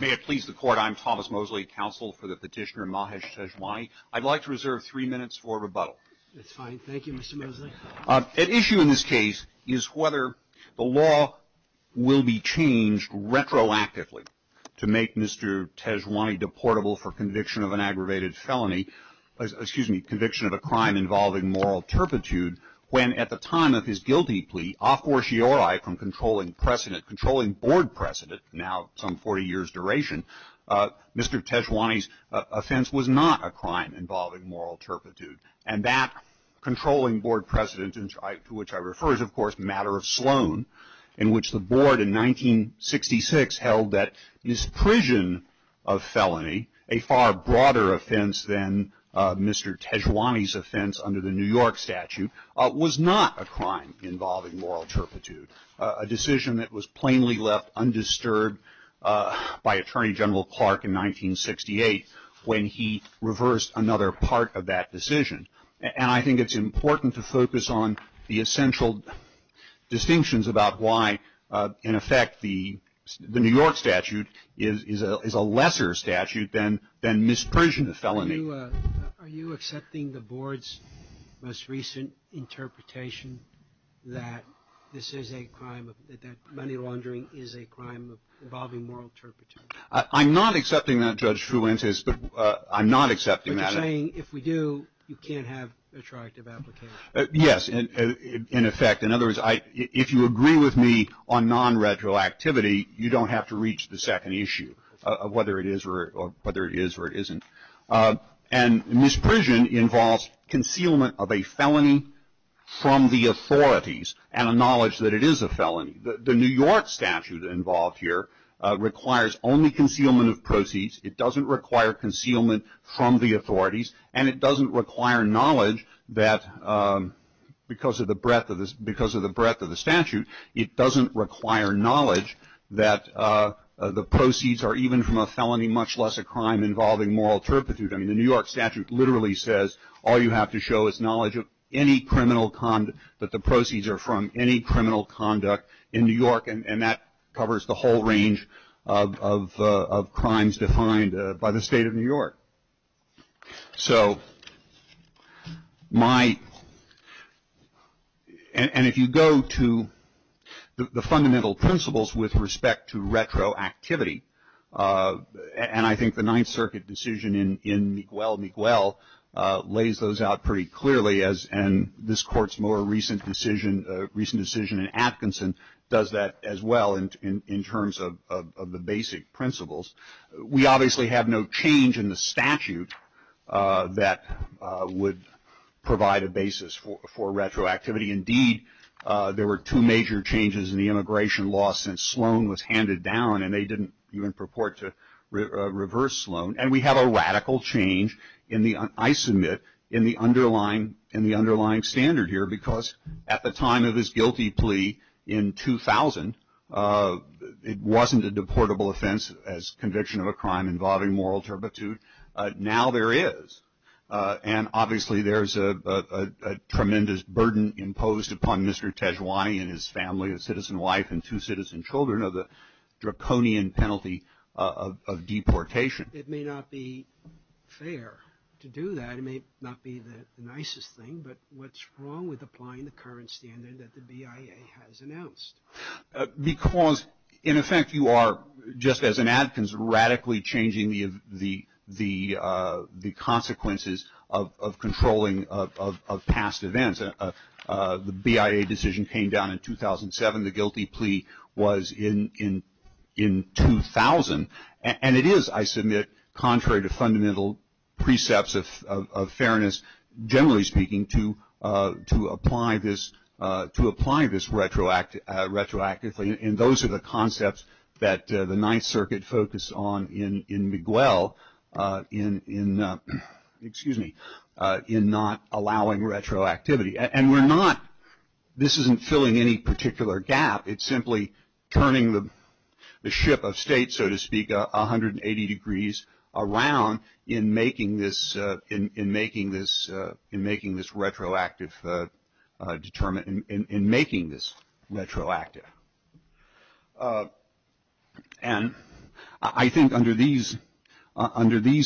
May it please the court, I'm Thomas Mosley, counsel for the petitioner Mahesh Tejwani. I'd like to reserve three minutes for rebuttal. That's fine. Thank you, Mr. Mosley. At issue in this case is whether the law will be changed retroactively to make Mr. Tejwani deportable for conviction of an aggravated felony, excuse me, conviction of a crime involving moral turpitude when at the time of his guilty plea, a fortiori from controlling precedent, now some 40 years duration, Mr. Tejwani's offense was not a crime involving moral turpitude. And that controlling board precedent to which I refer is, of course, the matter of Sloan, in which the board in 1966 held that his prison of felony, a far broader offense than Mr. Tejwani's offense under the New York statute, was not a crime involving moral turpitude, a decision that was plainly left undisturbed by Attorney General Clark in 1968 when he reversed another part of that decision. And I think it's important to focus on the essential distinctions about why, in effect, the New York statute is a lesser statute than misprision of felony. Are you accepting the board's most recent interpretation that this is a crime, that money laundering is a crime involving moral turpitude? I'm not accepting that, Judge Fuentes, but I'm not accepting that. But you're saying if we do, you can't have retroactive application? Yes, in effect. In other words, if you agree with me on non-retroactivity, you don't have to reach the second issue of whether it is or it isn't. And misprision involves concealment of a felony from the authorities and a knowledge that it is a felony. The New York statute involved here requires only concealment of proceeds. It doesn't require concealment from the authorities, and it doesn't require knowledge that, because of the breadth of the statute, it doesn't require knowledge that the proceeds are even from a felony, much less a crime involving moral turpitude. I mean, the New York statute literally says all you have to show is knowledge of any criminal conduct, that the proceeds are from any criminal conduct in New York, and that covers the whole range of crimes defined by the state of New York. So my, and if you go to the fundamental principles with respect to retroactivity, and I think the Ninth Circuit decision in Miguel Miguel lays those out pretty clearly, and this Court's more recent decision in Atkinson does that as well in terms of the basic principles. We obviously have no change in the statute that would provide a basis for retroactivity. Indeed, there were two major changes in the immigration law since Sloan was handed down, and they didn't even purport to reverse Sloan. And we have a radical change in the, I submit, in the underlying standard here, because at the time of his guilty plea in 2000, it wasn't a deportable offense as conviction of a crime involving moral turpitude. Now there is, and obviously there's a tremendous burden imposed upon Mr. Tejuani and his family, his citizen wife and two citizen children, of the draconian penalty of deportation. It may not be fair to do that, it may not be the nicest thing, but what's wrong with applying the current standard that the BIA has announced? Because, in effect, you are, just as in Atkins, radically changing the consequences of controlling of past events. The BIA decision came down in 2007, the guilty plea was in 2000, and it is, I submit, contrary to fundamental precepts of fairness, generally speaking, to apply this retroactively. And those are the concepts that the Ninth Circuit focused on in Miguel in, excuse me, in not allowing retroactivity. And we're not, this isn't filling any particular gap, it's simply turning the ship of state, so to speak, 180 degrees around in making this retroactive, in making this retroactive. And I think under these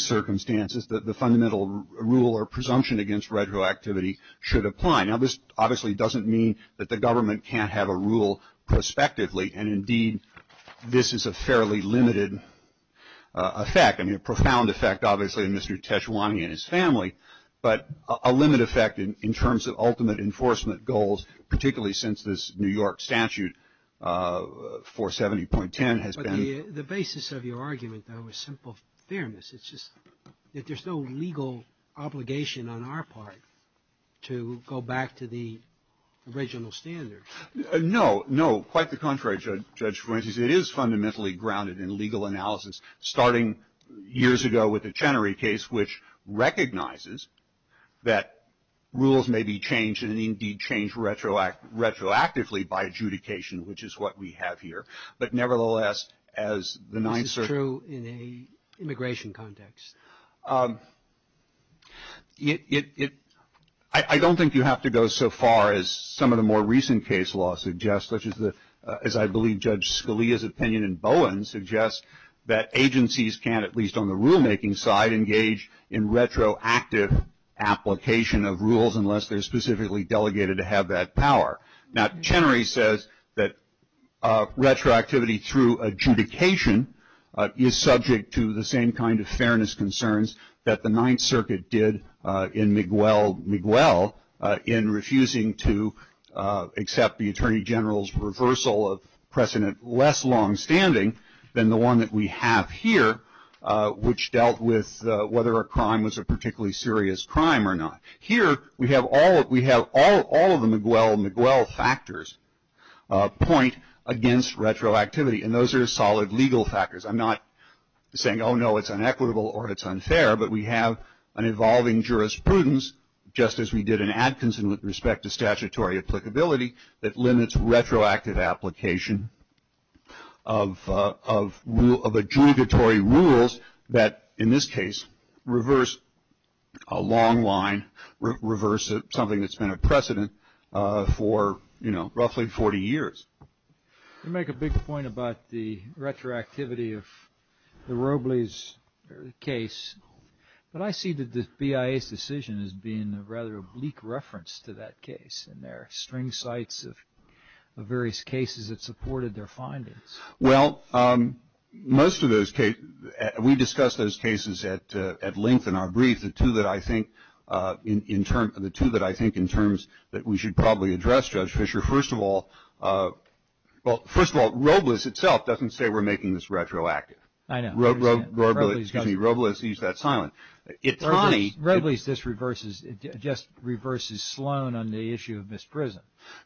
circumstances, the fundamental rule or presumption against retroactivity should apply. Now this obviously doesn't mean that the government can't have a rule prospectively, and indeed this is a fairly limited effect, I mean, a profound effect, obviously, on Mr. Teshawani and his family, but a limited effect in terms of ultimate enforcement goals, particularly since this New York statute, 470.10, has been. The basis of your argument, though, is simple fairness, it's just that there's no legal obligation on our part to go back to the original standards. No, no, quite the contrary, Judge Fuentes. It is fundamentally grounded in legal analysis, starting years ago with the Chenery case, which recognizes that rules may be changed and indeed changed retroactively by adjudication, which is what we have here. But nevertheless, as the Ninth Circuit. This is true in an immigration context. It, it, I don't think you have to go so far as some of the more recent case law suggests, such as the, as I believe Judge Scalia's opinion in Bowen suggests, that agencies can't, at least on the rulemaking side, engage in retroactive application of rules unless they're specifically delegated to have that power. Now Chenery says that retroactivity through adjudication is subject to the same kind of concerns that the Ninth Circuit did in McGwell, McGwell, in refusing to accept the Attorney General's reversal of precedent less longstanding than the one that we have here, which dealt with whether a crime was a particularly serious crime or not. Here we have all, we have all, all of the McGwell, McGwell factors point against retroactivity, and those are solid legal factors. I'm not saying, oh no, it's inequitable or it's unfair, but we have an evolving jurisprudence, just as we did in Atkinson with respect to statutory applicability, that limits retroactive application of, of, of adjudicatory rules that, in this case, reverse a long line, reverse something that's been a precedent for, you know, roughly 40 years. You make a big point about the retroactivity of the Robles case, but I see the BIA's decision as being a rather bleak reference to that case, and there are string sites of, of various cases that supported their findings. Well, most of those cases, we discussed those cases at, at length in our brief. The two that I think, in, in terms, the two that I think in terms that we should probably address, Judge Fischer, first of all, well, first of all, Robles itself doesn't say we're making this retroactive. I know. Ro, Ro, Robles, excuse me, Robles, use that silence. It's funny. Robles, Robles, this reverses, just reverses Sloan on the issue of misprision.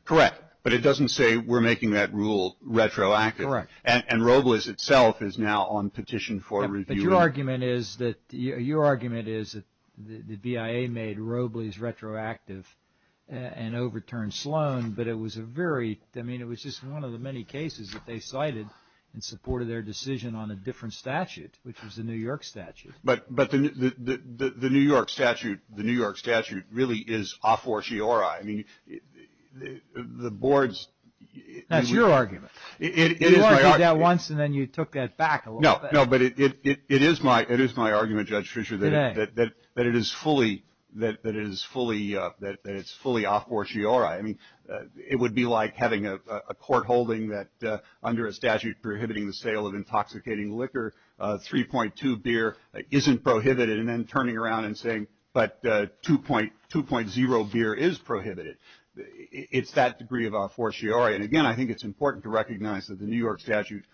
Correct, but it doesn't say we're making that rule retroactive. Correct. And, and Robles itself is now on petition for review. But your argument is that, your argument is that the, the BIA made Robles retroactive and overturned Sloan, but it was a very, I mean, it was just one of the many cases that they cited in support of their decision on a different statute, which was the New York statute. But, but the, the, the, the New York statute, the New York statute really is a fortiori. I mean, the, the, the board's. That's your argument. It, it is my argument. You argued that once and then you took that back a little bit. No, no, but it, it, it, it is my, it is my argument, Judge Fischer, that, that, that, that it is fully, that, that it is fully, that, that it's fully a fortiori. I mean, it would be like having a, a, a court holding that under a statute prohibiting the sale of intoxicating liquor, 3.2 beer isn't prohibited, and then turning around and saying, but 2.0 beer is prohibited. It's that degree of a fortiori. And again, I think it's important to recognize that the New York statute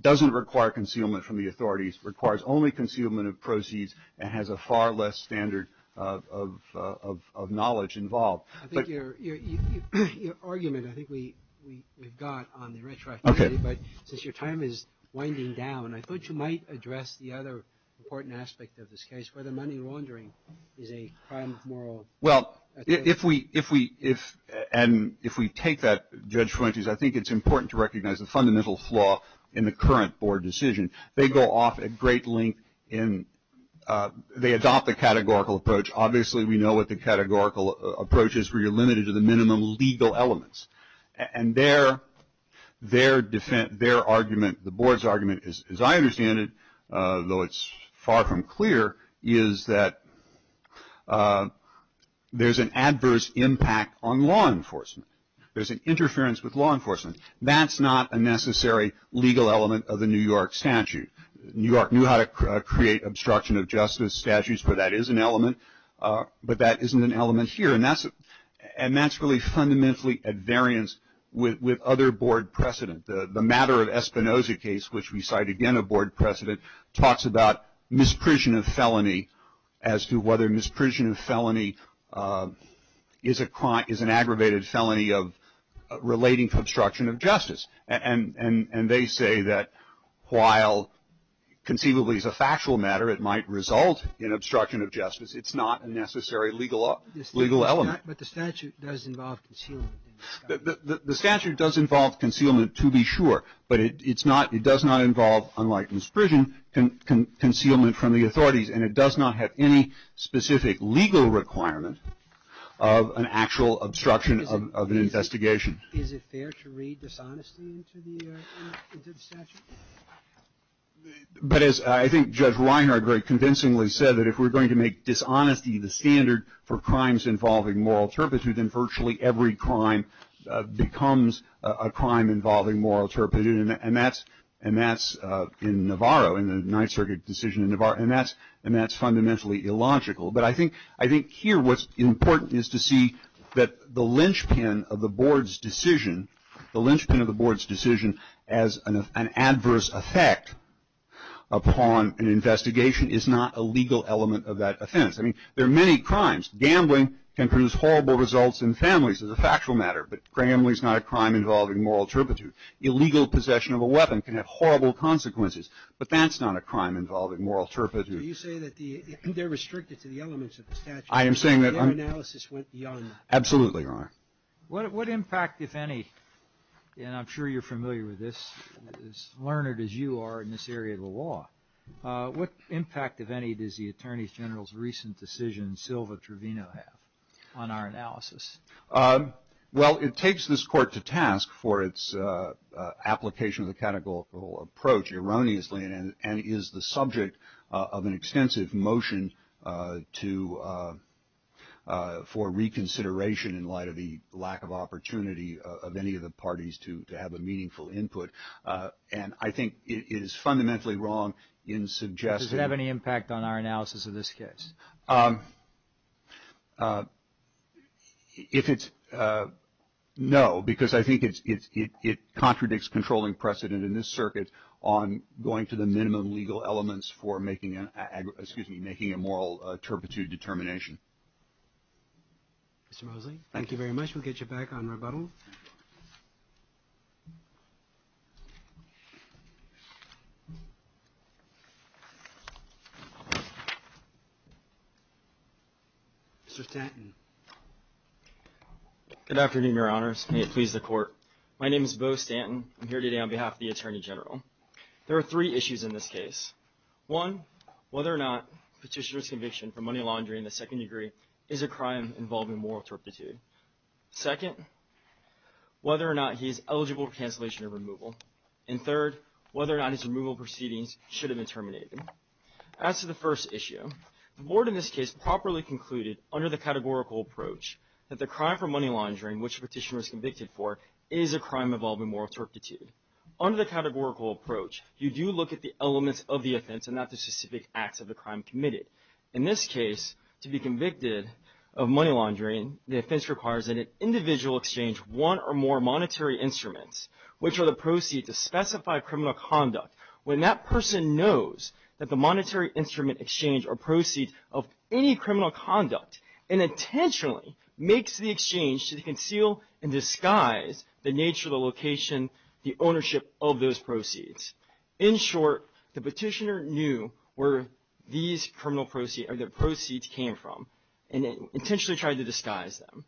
doesn't require concealment from the authorities. It requires only concealment of proceeds and has a far less standard of, of, of, of knowledge involved. I think your, your, your, your argument, I think we, we, we've got on the retroactivity. Okay. But since your time is winding down, I thought you might address the other important aspect of this case, whether money laundering is a crime of moral, I think. Well, if, if we, if we, if, and if we take that, Judge Fuentes, I think it's important to recognize the fundamental flaw in the current board decision. They go off at great length in, they adopt the categorical approach. Obviously, we know what the categorical approach is where you're limited to the minimum legal elements. And their, their defense, their argument, the board's argument is, as I understand it, though it's far from clear, is that there's an adverse impact on law enforcement. There's an interference with law enforcement. That's not a necessary legal element of the New York statute. New York knew how to create obstruction of justice statutes, but that is an element. But that isn't an element here. And that's, and that's really fundamentally at variance with, with other board precedent. The matter of Espinoza case, which we cite again a board precedent, talks about misprision of felony as to whether misprision of felony is a crime, is an aggravated felony of relating to obstruction of justice. And they say that while conceivably it's a factual matter, it might result in obstruction of justice. It's not a necessary legal, legal element. But the statute does involve concealment. The statute does involve concealment to be sure, but it's not, it does not involve, unlike misprision, concealment from the authorities. And it does not have any specific legal requirement of an actual obstruction of an investigation. Is it fair to read dishonesty into the statute? But as I think Judge Reinhart very convincingly said, that if we're going to make dishonesty the standard for crimes involving moral turpitude, then virtually every crime becomes a crime involving moral turpitude. And that's, and that's in Navarro, in the Ninth Circuit decision in Navarro, and that's, and that's fundamentally illogical. But I think, I think here what's important is to see that the linchpin of the board's decision, the linchpin of the board's decision as an adverse effect upon an investigation is not a legal element of that offense. I mean, there are many crimes. Gambling can produce horrible results in families as a factual matter, but gambling's not a crime involving moral turpitude. Illegal possession of a weapon can have horrible consequences, but that's not a crime involving moral turpitude. So you say that the, they're restricted to the elements of the statute. I am saying that I'm. But their analysis went young. Absolutely, Your Honor. What impact, if any, and I'm sure you're familiar with this, as learned as you are in this area of the law, what impact, if any, does the Attorney General's recent decision in Silva Trevino have on our analysis? Well it takes this court to task for its application of the categorical approach, erroneously, and is the subject of an extensive motion to, for reconsideration in light of the lack of opportunity of any of the parties to have a meaningful input. And I think it is fundamentally wrong in suggesting. Does it have any impact on our analysis of this case? If it's, no, because I think it's, it contradicts controlling precedent in this circuit on going to the minimum legal elements for making an, excuse me, making a moral turpitude determination. Mr. Mosley. Thank you very much. We'll get you back on rebuttal. Mr. Stanton. Good afternoon, Your Honors. May it please the Court. My name is Beau Stanton. I'm here today on behalf of the Attorney General. There are three issues in this case. One, whether or not Petitioner's conviction for money laundering in the second degree is a crime involving moral turpitude. Second, whether or not he is eligible for cancellation of removal. And third, whether or not his removal proceedings should have been terminated. As to the first issue, the Board in this case properly concluded under the categorical approach that the crime for money laundering which Petitioner was convicted for is a crime involving moral turpitude. Under the categorical approach, you do look at the elements of the offense and not the specific acts of the crime committed. In this case, to be convicted of money laundering, the offense requires that an individual exchange one or more monetary instruments, which are the proceeds to specify criminal conduct. When that person knows that the monetary instrument exchange are proceeds of any criminal conduct and intentionally makes the exchange to conceal and disguise the nature, the location, the ownership of those proceeds. In short, the Petitioner knew where these criminal proceeds or the proceeds came from and intentionally tried to disguise them.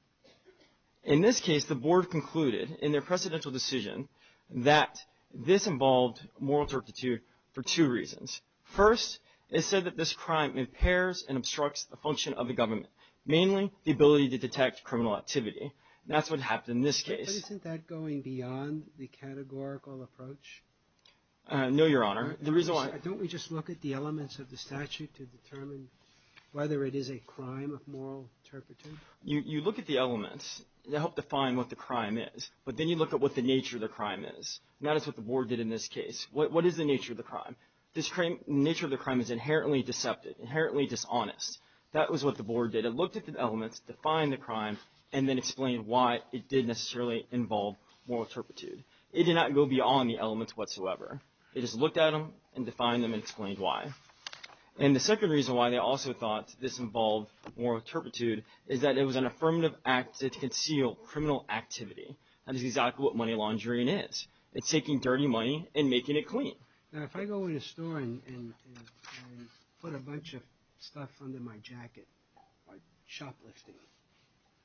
In this case, the Board concluded in their precedential decision that this involved moral turpitude for two reasons. First, it said that this crime impairs and obstructs the function of the government, mainly the ability to detect criminal activity. That's what happened in this case. But isn't that going beyond the categorical approach? No, Your Honor. The reason why... Don't we just look at the elements of the statute to determine whether it is a crime of moral turpitude? You look at the elements that help define what the crime is, but then you look at what the nature of the crime is. And that is what the Board did in this case. What is the nature of the crime? The nature of the crime is inherently deceptive, inherently dishonest. That was what the Board did. They looked at the elements, defined the crime, and then explained why it did necessarily involve moral turpitude. It did not go beyond the elements whatsoever. They just looked at them and defined them and explained why. And the second reason why they also thought this involved moral turpitude is that it was an affirmative act to conceal criminal activity. That is exactly what money laundering is. It's taking dirty money and making it clean. Now, if I go in a store and put a bunch of stuff under my jacket, like shoplifting,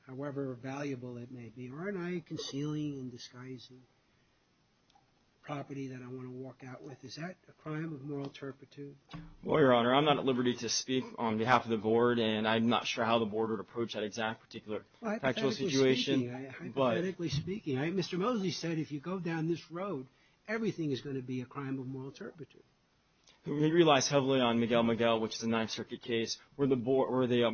however valuable it may be, aren't I concealing and disguising property that I want to walk out with? Is that a crime of moral turpitude? Well, Your Honor, I'm not at liberty to speak on behalf of the Board, and I'm not sure how the Board would approach that exact particular factual situation. Hypothetically speaking, Mr. Mosley said, if you go down this road, everything is going to be a crime of moral turpitude. We realize heavily on Miguel Miguel, which is a Ninth Circuit case, where the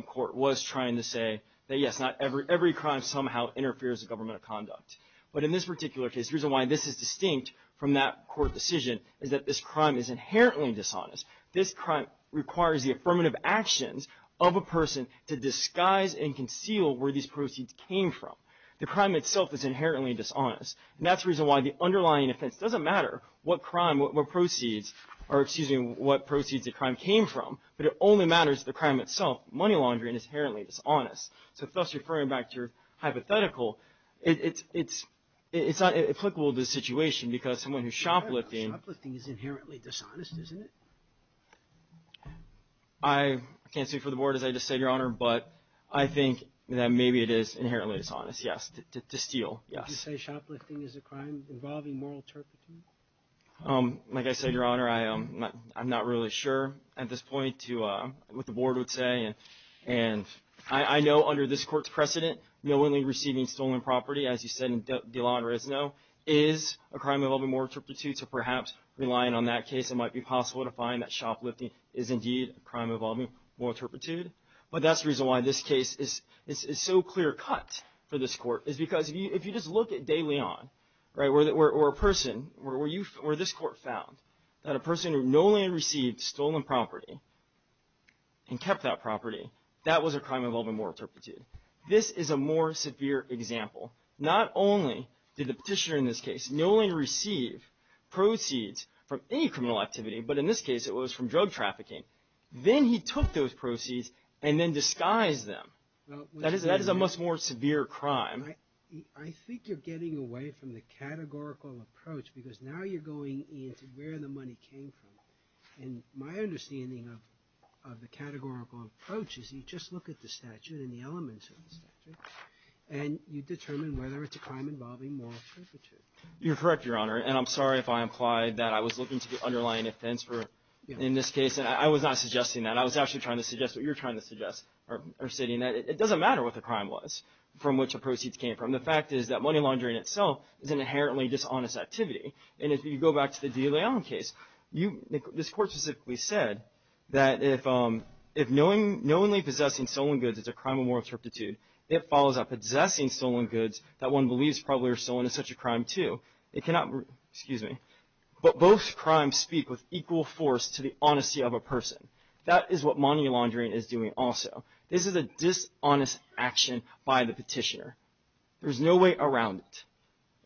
Court was trying to say that, yes, not every crime somehow interferes with government of conduct. But in this particular case, the reason why this is distinct from that court decision is that this crime is inherently dishonest. This crime requires the affirmative actions of a person to disguise and conceal where these proceeds came from. The crime itself is inherently dishonest, and that's the reason why the underlying offense doesn't matter what crime, what proceeds, or excuse me, what proceeds the crime came from, but it only matters the crime itself, money laundering, is inherently dishonest. So thus referring back to your hypothetical, it's not applicable to this situation because someone who's shoplifting. Shoplifting is inherently dishonest, isn't it? I can't speak for the Board as I just said, Your Honor, but I think that maybe it is inherently dishonest, yes, to steal, yes. Would you say shoplifting is a crime involving moral turpitude? Like I said, Your Honor, I'm not really sure at this point what the Board would say, and I know under this Court's precedent, knowingly receiving stolen property, as you said in Dilan-Rezno, is a crime involving moral turpitude, so perhaps relying on that case, it might be possible to find that shoplifting is indeed a crime involving moral turpitude. But that's the reason why this case is so clear-cut for this Court, is because if you just look at De Leon, where this Court found that a person who knowingly received stolen property and kept that property, that was a crime involving moral turpitude. This is a more severe example. Not only did the petitioner in this case knowingly receive proceeds from any criminal activity, but in this case it was from drug trafficking, then he took those proceeds and then disguised them. That is a much more severe crime. I think you're getting away from the categorical approach, because now you're going into where the money came from, and my understanding of the categorical approach is you just look at the statute and the elements of the statute, and you determine whether it's a crime involving moral turpitude. You're correct, Your Honor, and I'm sorry if I implied that I was looking to the underlying offense in this case, and I was not suggesting that. I was actually trying to suggest what you're trying to suggest, or stating that it doesn't matter what the crime was from which the proceeds came from. The fact is that money laundering itself is an inherently dishonest activity, and if you go back to the De Leon case, this Court specifically said that if knowingly possessing stolen goods is a crime of moral turpitude, it follows that possessing stolen goods that one believes probably were stolen is such a crime, too. But both crimes speak with equal force to the honesty of a person. That is what money laundering is doing also. This is a dishonest action by the petitioner. There's no way around it,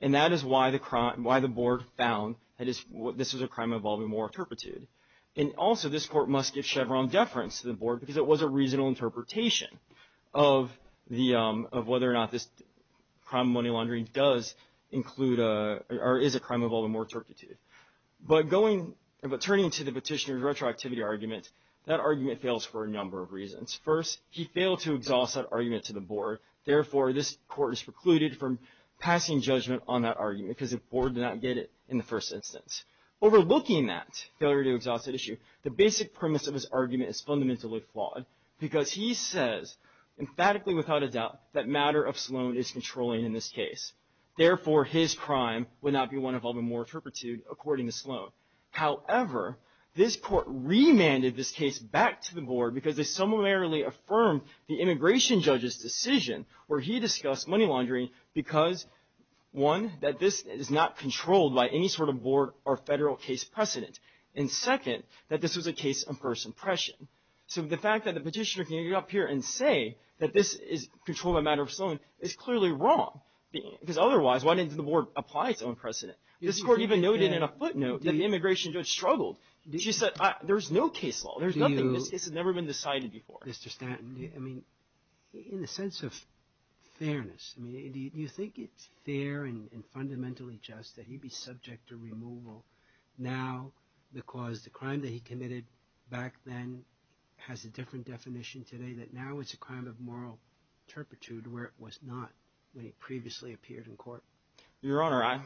and that is why the board found that this was a crime involving moral turpitude. And also, this Court must give Chevron deference to the board because it was a reasonable interpretation of whether or not this crime of money laundering does include, or is a crime involving moral turpitude. But turning to the petitioner's retroactivity argument, that argument fails for a number of reasons. First, he failed to exhaust that argument to the board, therefore this Court is precluded from passing judgment on that argument because the board did not get it in the first instance. Overlooking that failure to exhaust that issue, the basic premise of his argument is fundamentally flawed because he says emphatically without a doubt that matter of Sloan is controlling in this case. Therefore, his crime would not be one involving moral turpitude, according to Sloan. However, this Court remanded this case back to the board because they summarily affirmed the immigration judge's decision where he discussed money laundering because, one, that this is not controlled by any sort of board or federal case precedent, and second, that this was a case of first impression. So the fact that the petitioner can get up here and say that this is controlled by matter of Sloan is clearly wrong, because otherwise, why didn't the board apply its own precedent? This Court even noted in a footnote that the immigration judge struggled. She said, there's no case law. There's nothing. This has never been decided before. Mr. Stanton, I mean, in a sense of fairness, I mean, do you think it's fair and fundamentally just that he be subject to removal now because the crime that he committed back then has a different definition today, that now it's a crime of moral turpitude where it was not when he previously appeared in court? Your Honor, I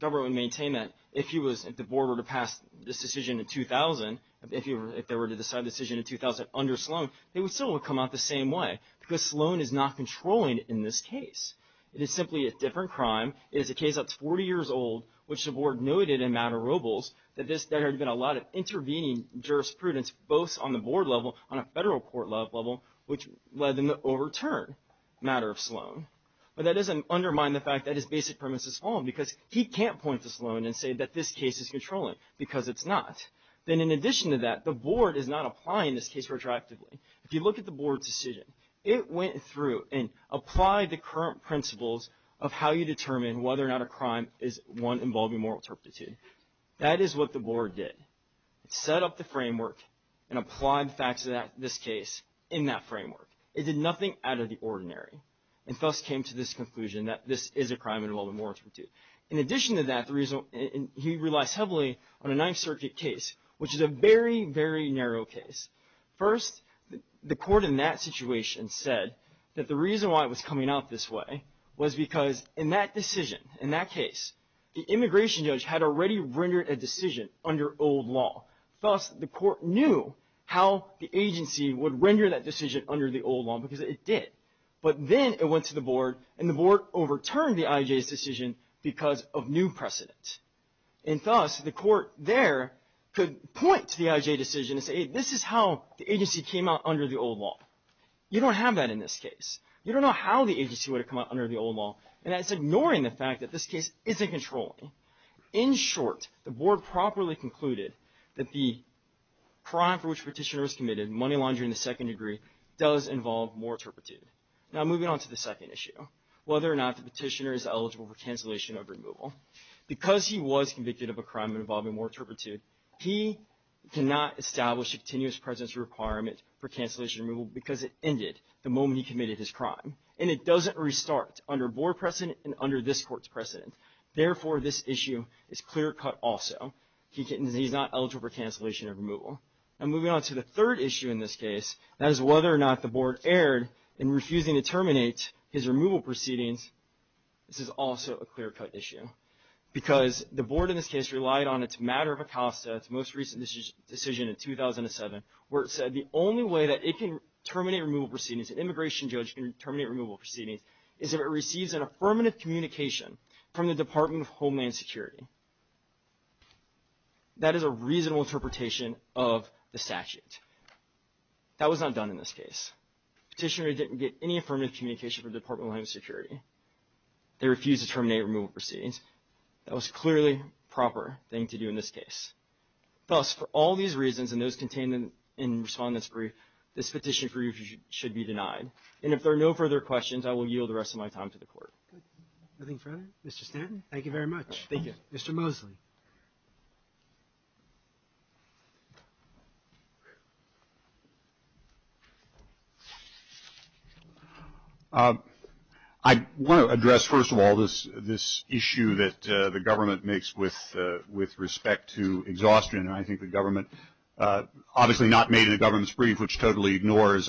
would maintain that if the board were to pass this decision in 2000, if they were to decide the decision in 2000 under Sloan, it would still come out the same way because Sloan is not controlling in this case. It is simply a different crime. It is a case that's 40 years old, which the board noted in Matarobles that there had been a lot of intervening jurisprudence both on the board level, on a federal court level, which led them to overturn matter of Sloan. But that doesn't undermine the fact that his basic premise is Sloan because he can't point to Sloan and say that this case is controlling because it's not. Then in addition to that, the board is not applying this case retroactively. If you look at the board's decision, it went through and applied the current principles of how you determine whether or not a crime is one involving moral turpitude. That is what the board did. It set up the framework and applied the facts of this case in that framework. It did nothing out of the ordinary and thus came to this conclusion that this is a crime involving moral turpitude. In addition to that, he relies heavily on a Ninth Circuit case, which is a very, very narrow case. First, the court in that situation said that the reason why it was coming out this way was because in that decision, in that case, the immigration judge had already rendered a decision under old law. Thus, the court knew how the agency would render that decision under the old law because it did. But then it went to the board and the board overturned the IJ's decision because of new precedent. And thus, the court there could point to the IJ decision and say, this is how the agency came out under the old law. You don't have that in this case. You don't know how the agency would have come out under the old law. And that's ignoring the fact that this case isn't controlling. In short, the board properly concluded that the crime for which Petitioner was committed, money laundering in the second degree, does involve moral turpitude. Now, moving on to the second issue, whether or not the Petitioner is eligible for cancellation of removal. Because he was convicted of a crime involving moral turpitude, he cannot establish a continuous presence requirement for cancellation removal because it ended the moment he committed his crime. Therefore, this issue is clear cut also. He's not eligible for cancellation of removal. And moving on to the third issue in this case, that is whether or not the board erred in refusing to terminate his removal proceedings, this is also a clear cut issue. Because the board in this case relied on its matter of Acosta, its most recent decision in 2007, where it said the only way that it can terminate removal proceedings, an immigration judge can terminate removal proceedings, is if it receives an affirmative communication from the Department of Homeland Security. That is a reasonable interpretation of the statute. That was not done in this case. Petitioner didn't get any affirmative communication from the Department of Homeland Security. They refused to terminate removal proceedings. That was clearly a proper thing to do in this case. Thus, for all these reasons and those contained in Respondent's Brief, this Petitioner's Brief should be denied. And if there are no further questions, I will yield the rest of my time to the Court. Nothing further? Mr. Stanton? Thank you very much. Thank you. Mr. Mosley. I want to address, first of all, this issue that the government makes with respect to exhaustion. And I think the government, obviously not made in a government's brief, which totally So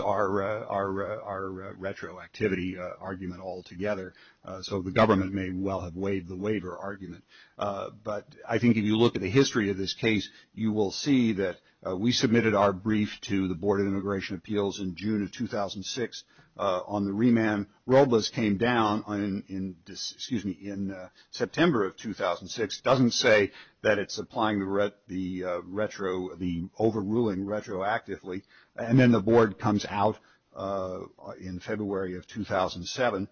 the government may well have waived the waiver argument. But I think if you look at the history of this case, you will see that we submitted our brief to the Board of Immigration Appeals in June of 2006. On the remand, ROBLAS came down in September of 2006. Doesn't say that it's applying the overruling retroactively. And then the Board comes out in February of 2007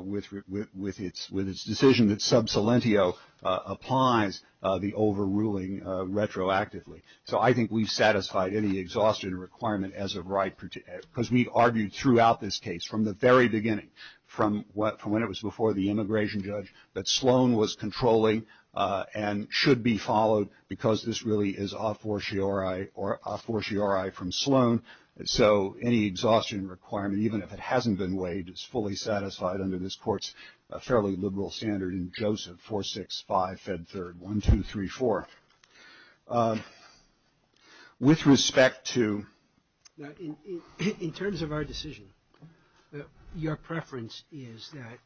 with its decision that sub salentio applies the overruling retroactively. So I think we've satisfied any exhaustion requirement as of right, because we argued throughout this case, from the very beginning, from when it was before the immigration judge, that Sloan was controlling and should be followed because this really is a fortiori from Sloan So any exhaustion requirement, even if it hasn't been waived, is fully satisfied under this court's fairly liberal standard in Joseph 465 Fed 3rd, 1234. With respect to Now, in terms of our decision, your preference is that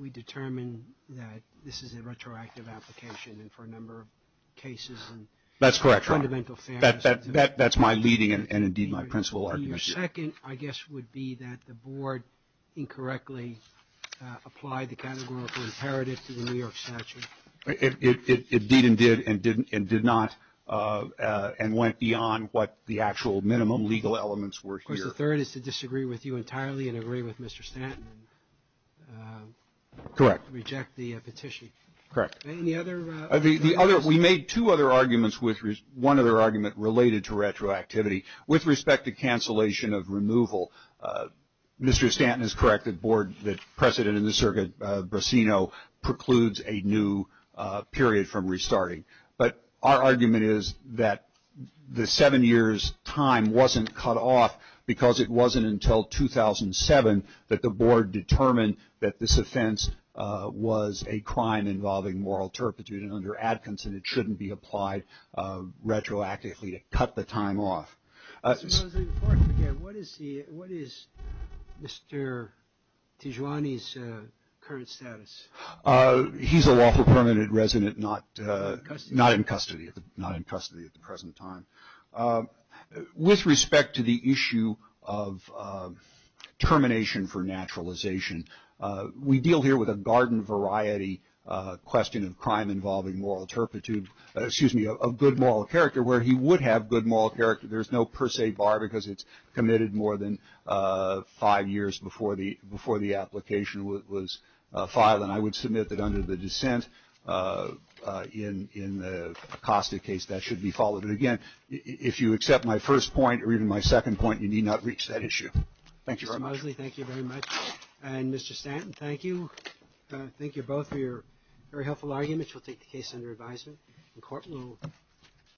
we determine that this is a retroactive application and for a number of cases and My second, I guess, would be that the Board incorrectly applied the categorical imperative to the New York statute. It did and did and did not and went beyond what the actual minimum legal elements were here. Of course, the third is to disagree with you entirely and agree with Mr. Stanton and reject the petition. Correct. And the other We made two other arguments with one other argument related to retroactivity. With respect to cancellation of removal, Mr. Stanton is correct, the Board, the President of the Circuit, Brasino, precludes a new period from restarting. But our argument is that the seven years' time wasn't cut off because it wasn't until 2007 that the Board determined that this offense was a crime involving moral turpitude and under Adkins and it shouldn't be applied retroactively to cut the time off. Mr. Mosley, before I forget, what is Mr. Tijuani's current status? He's a lawful permanent resident, not in custody at the present time. With respect to the issue of termination for naturalization, we deal here with a garden variety question of crime involving moral turpitude, excuse me, of good moral character where he would have good moral character. There's no per se bar because it's committed more than five years before the application was filed and I would submit that under the dissent in the Acosta case that should be followed. But again, if you accept my first point or even my second point, you need not reach that issue. Thank you very much. Mr. Mosley, thank you very much. And Mr. Stanton, thank you. Thank you both for your very helpful arguments. We'll take the case under advisement in court.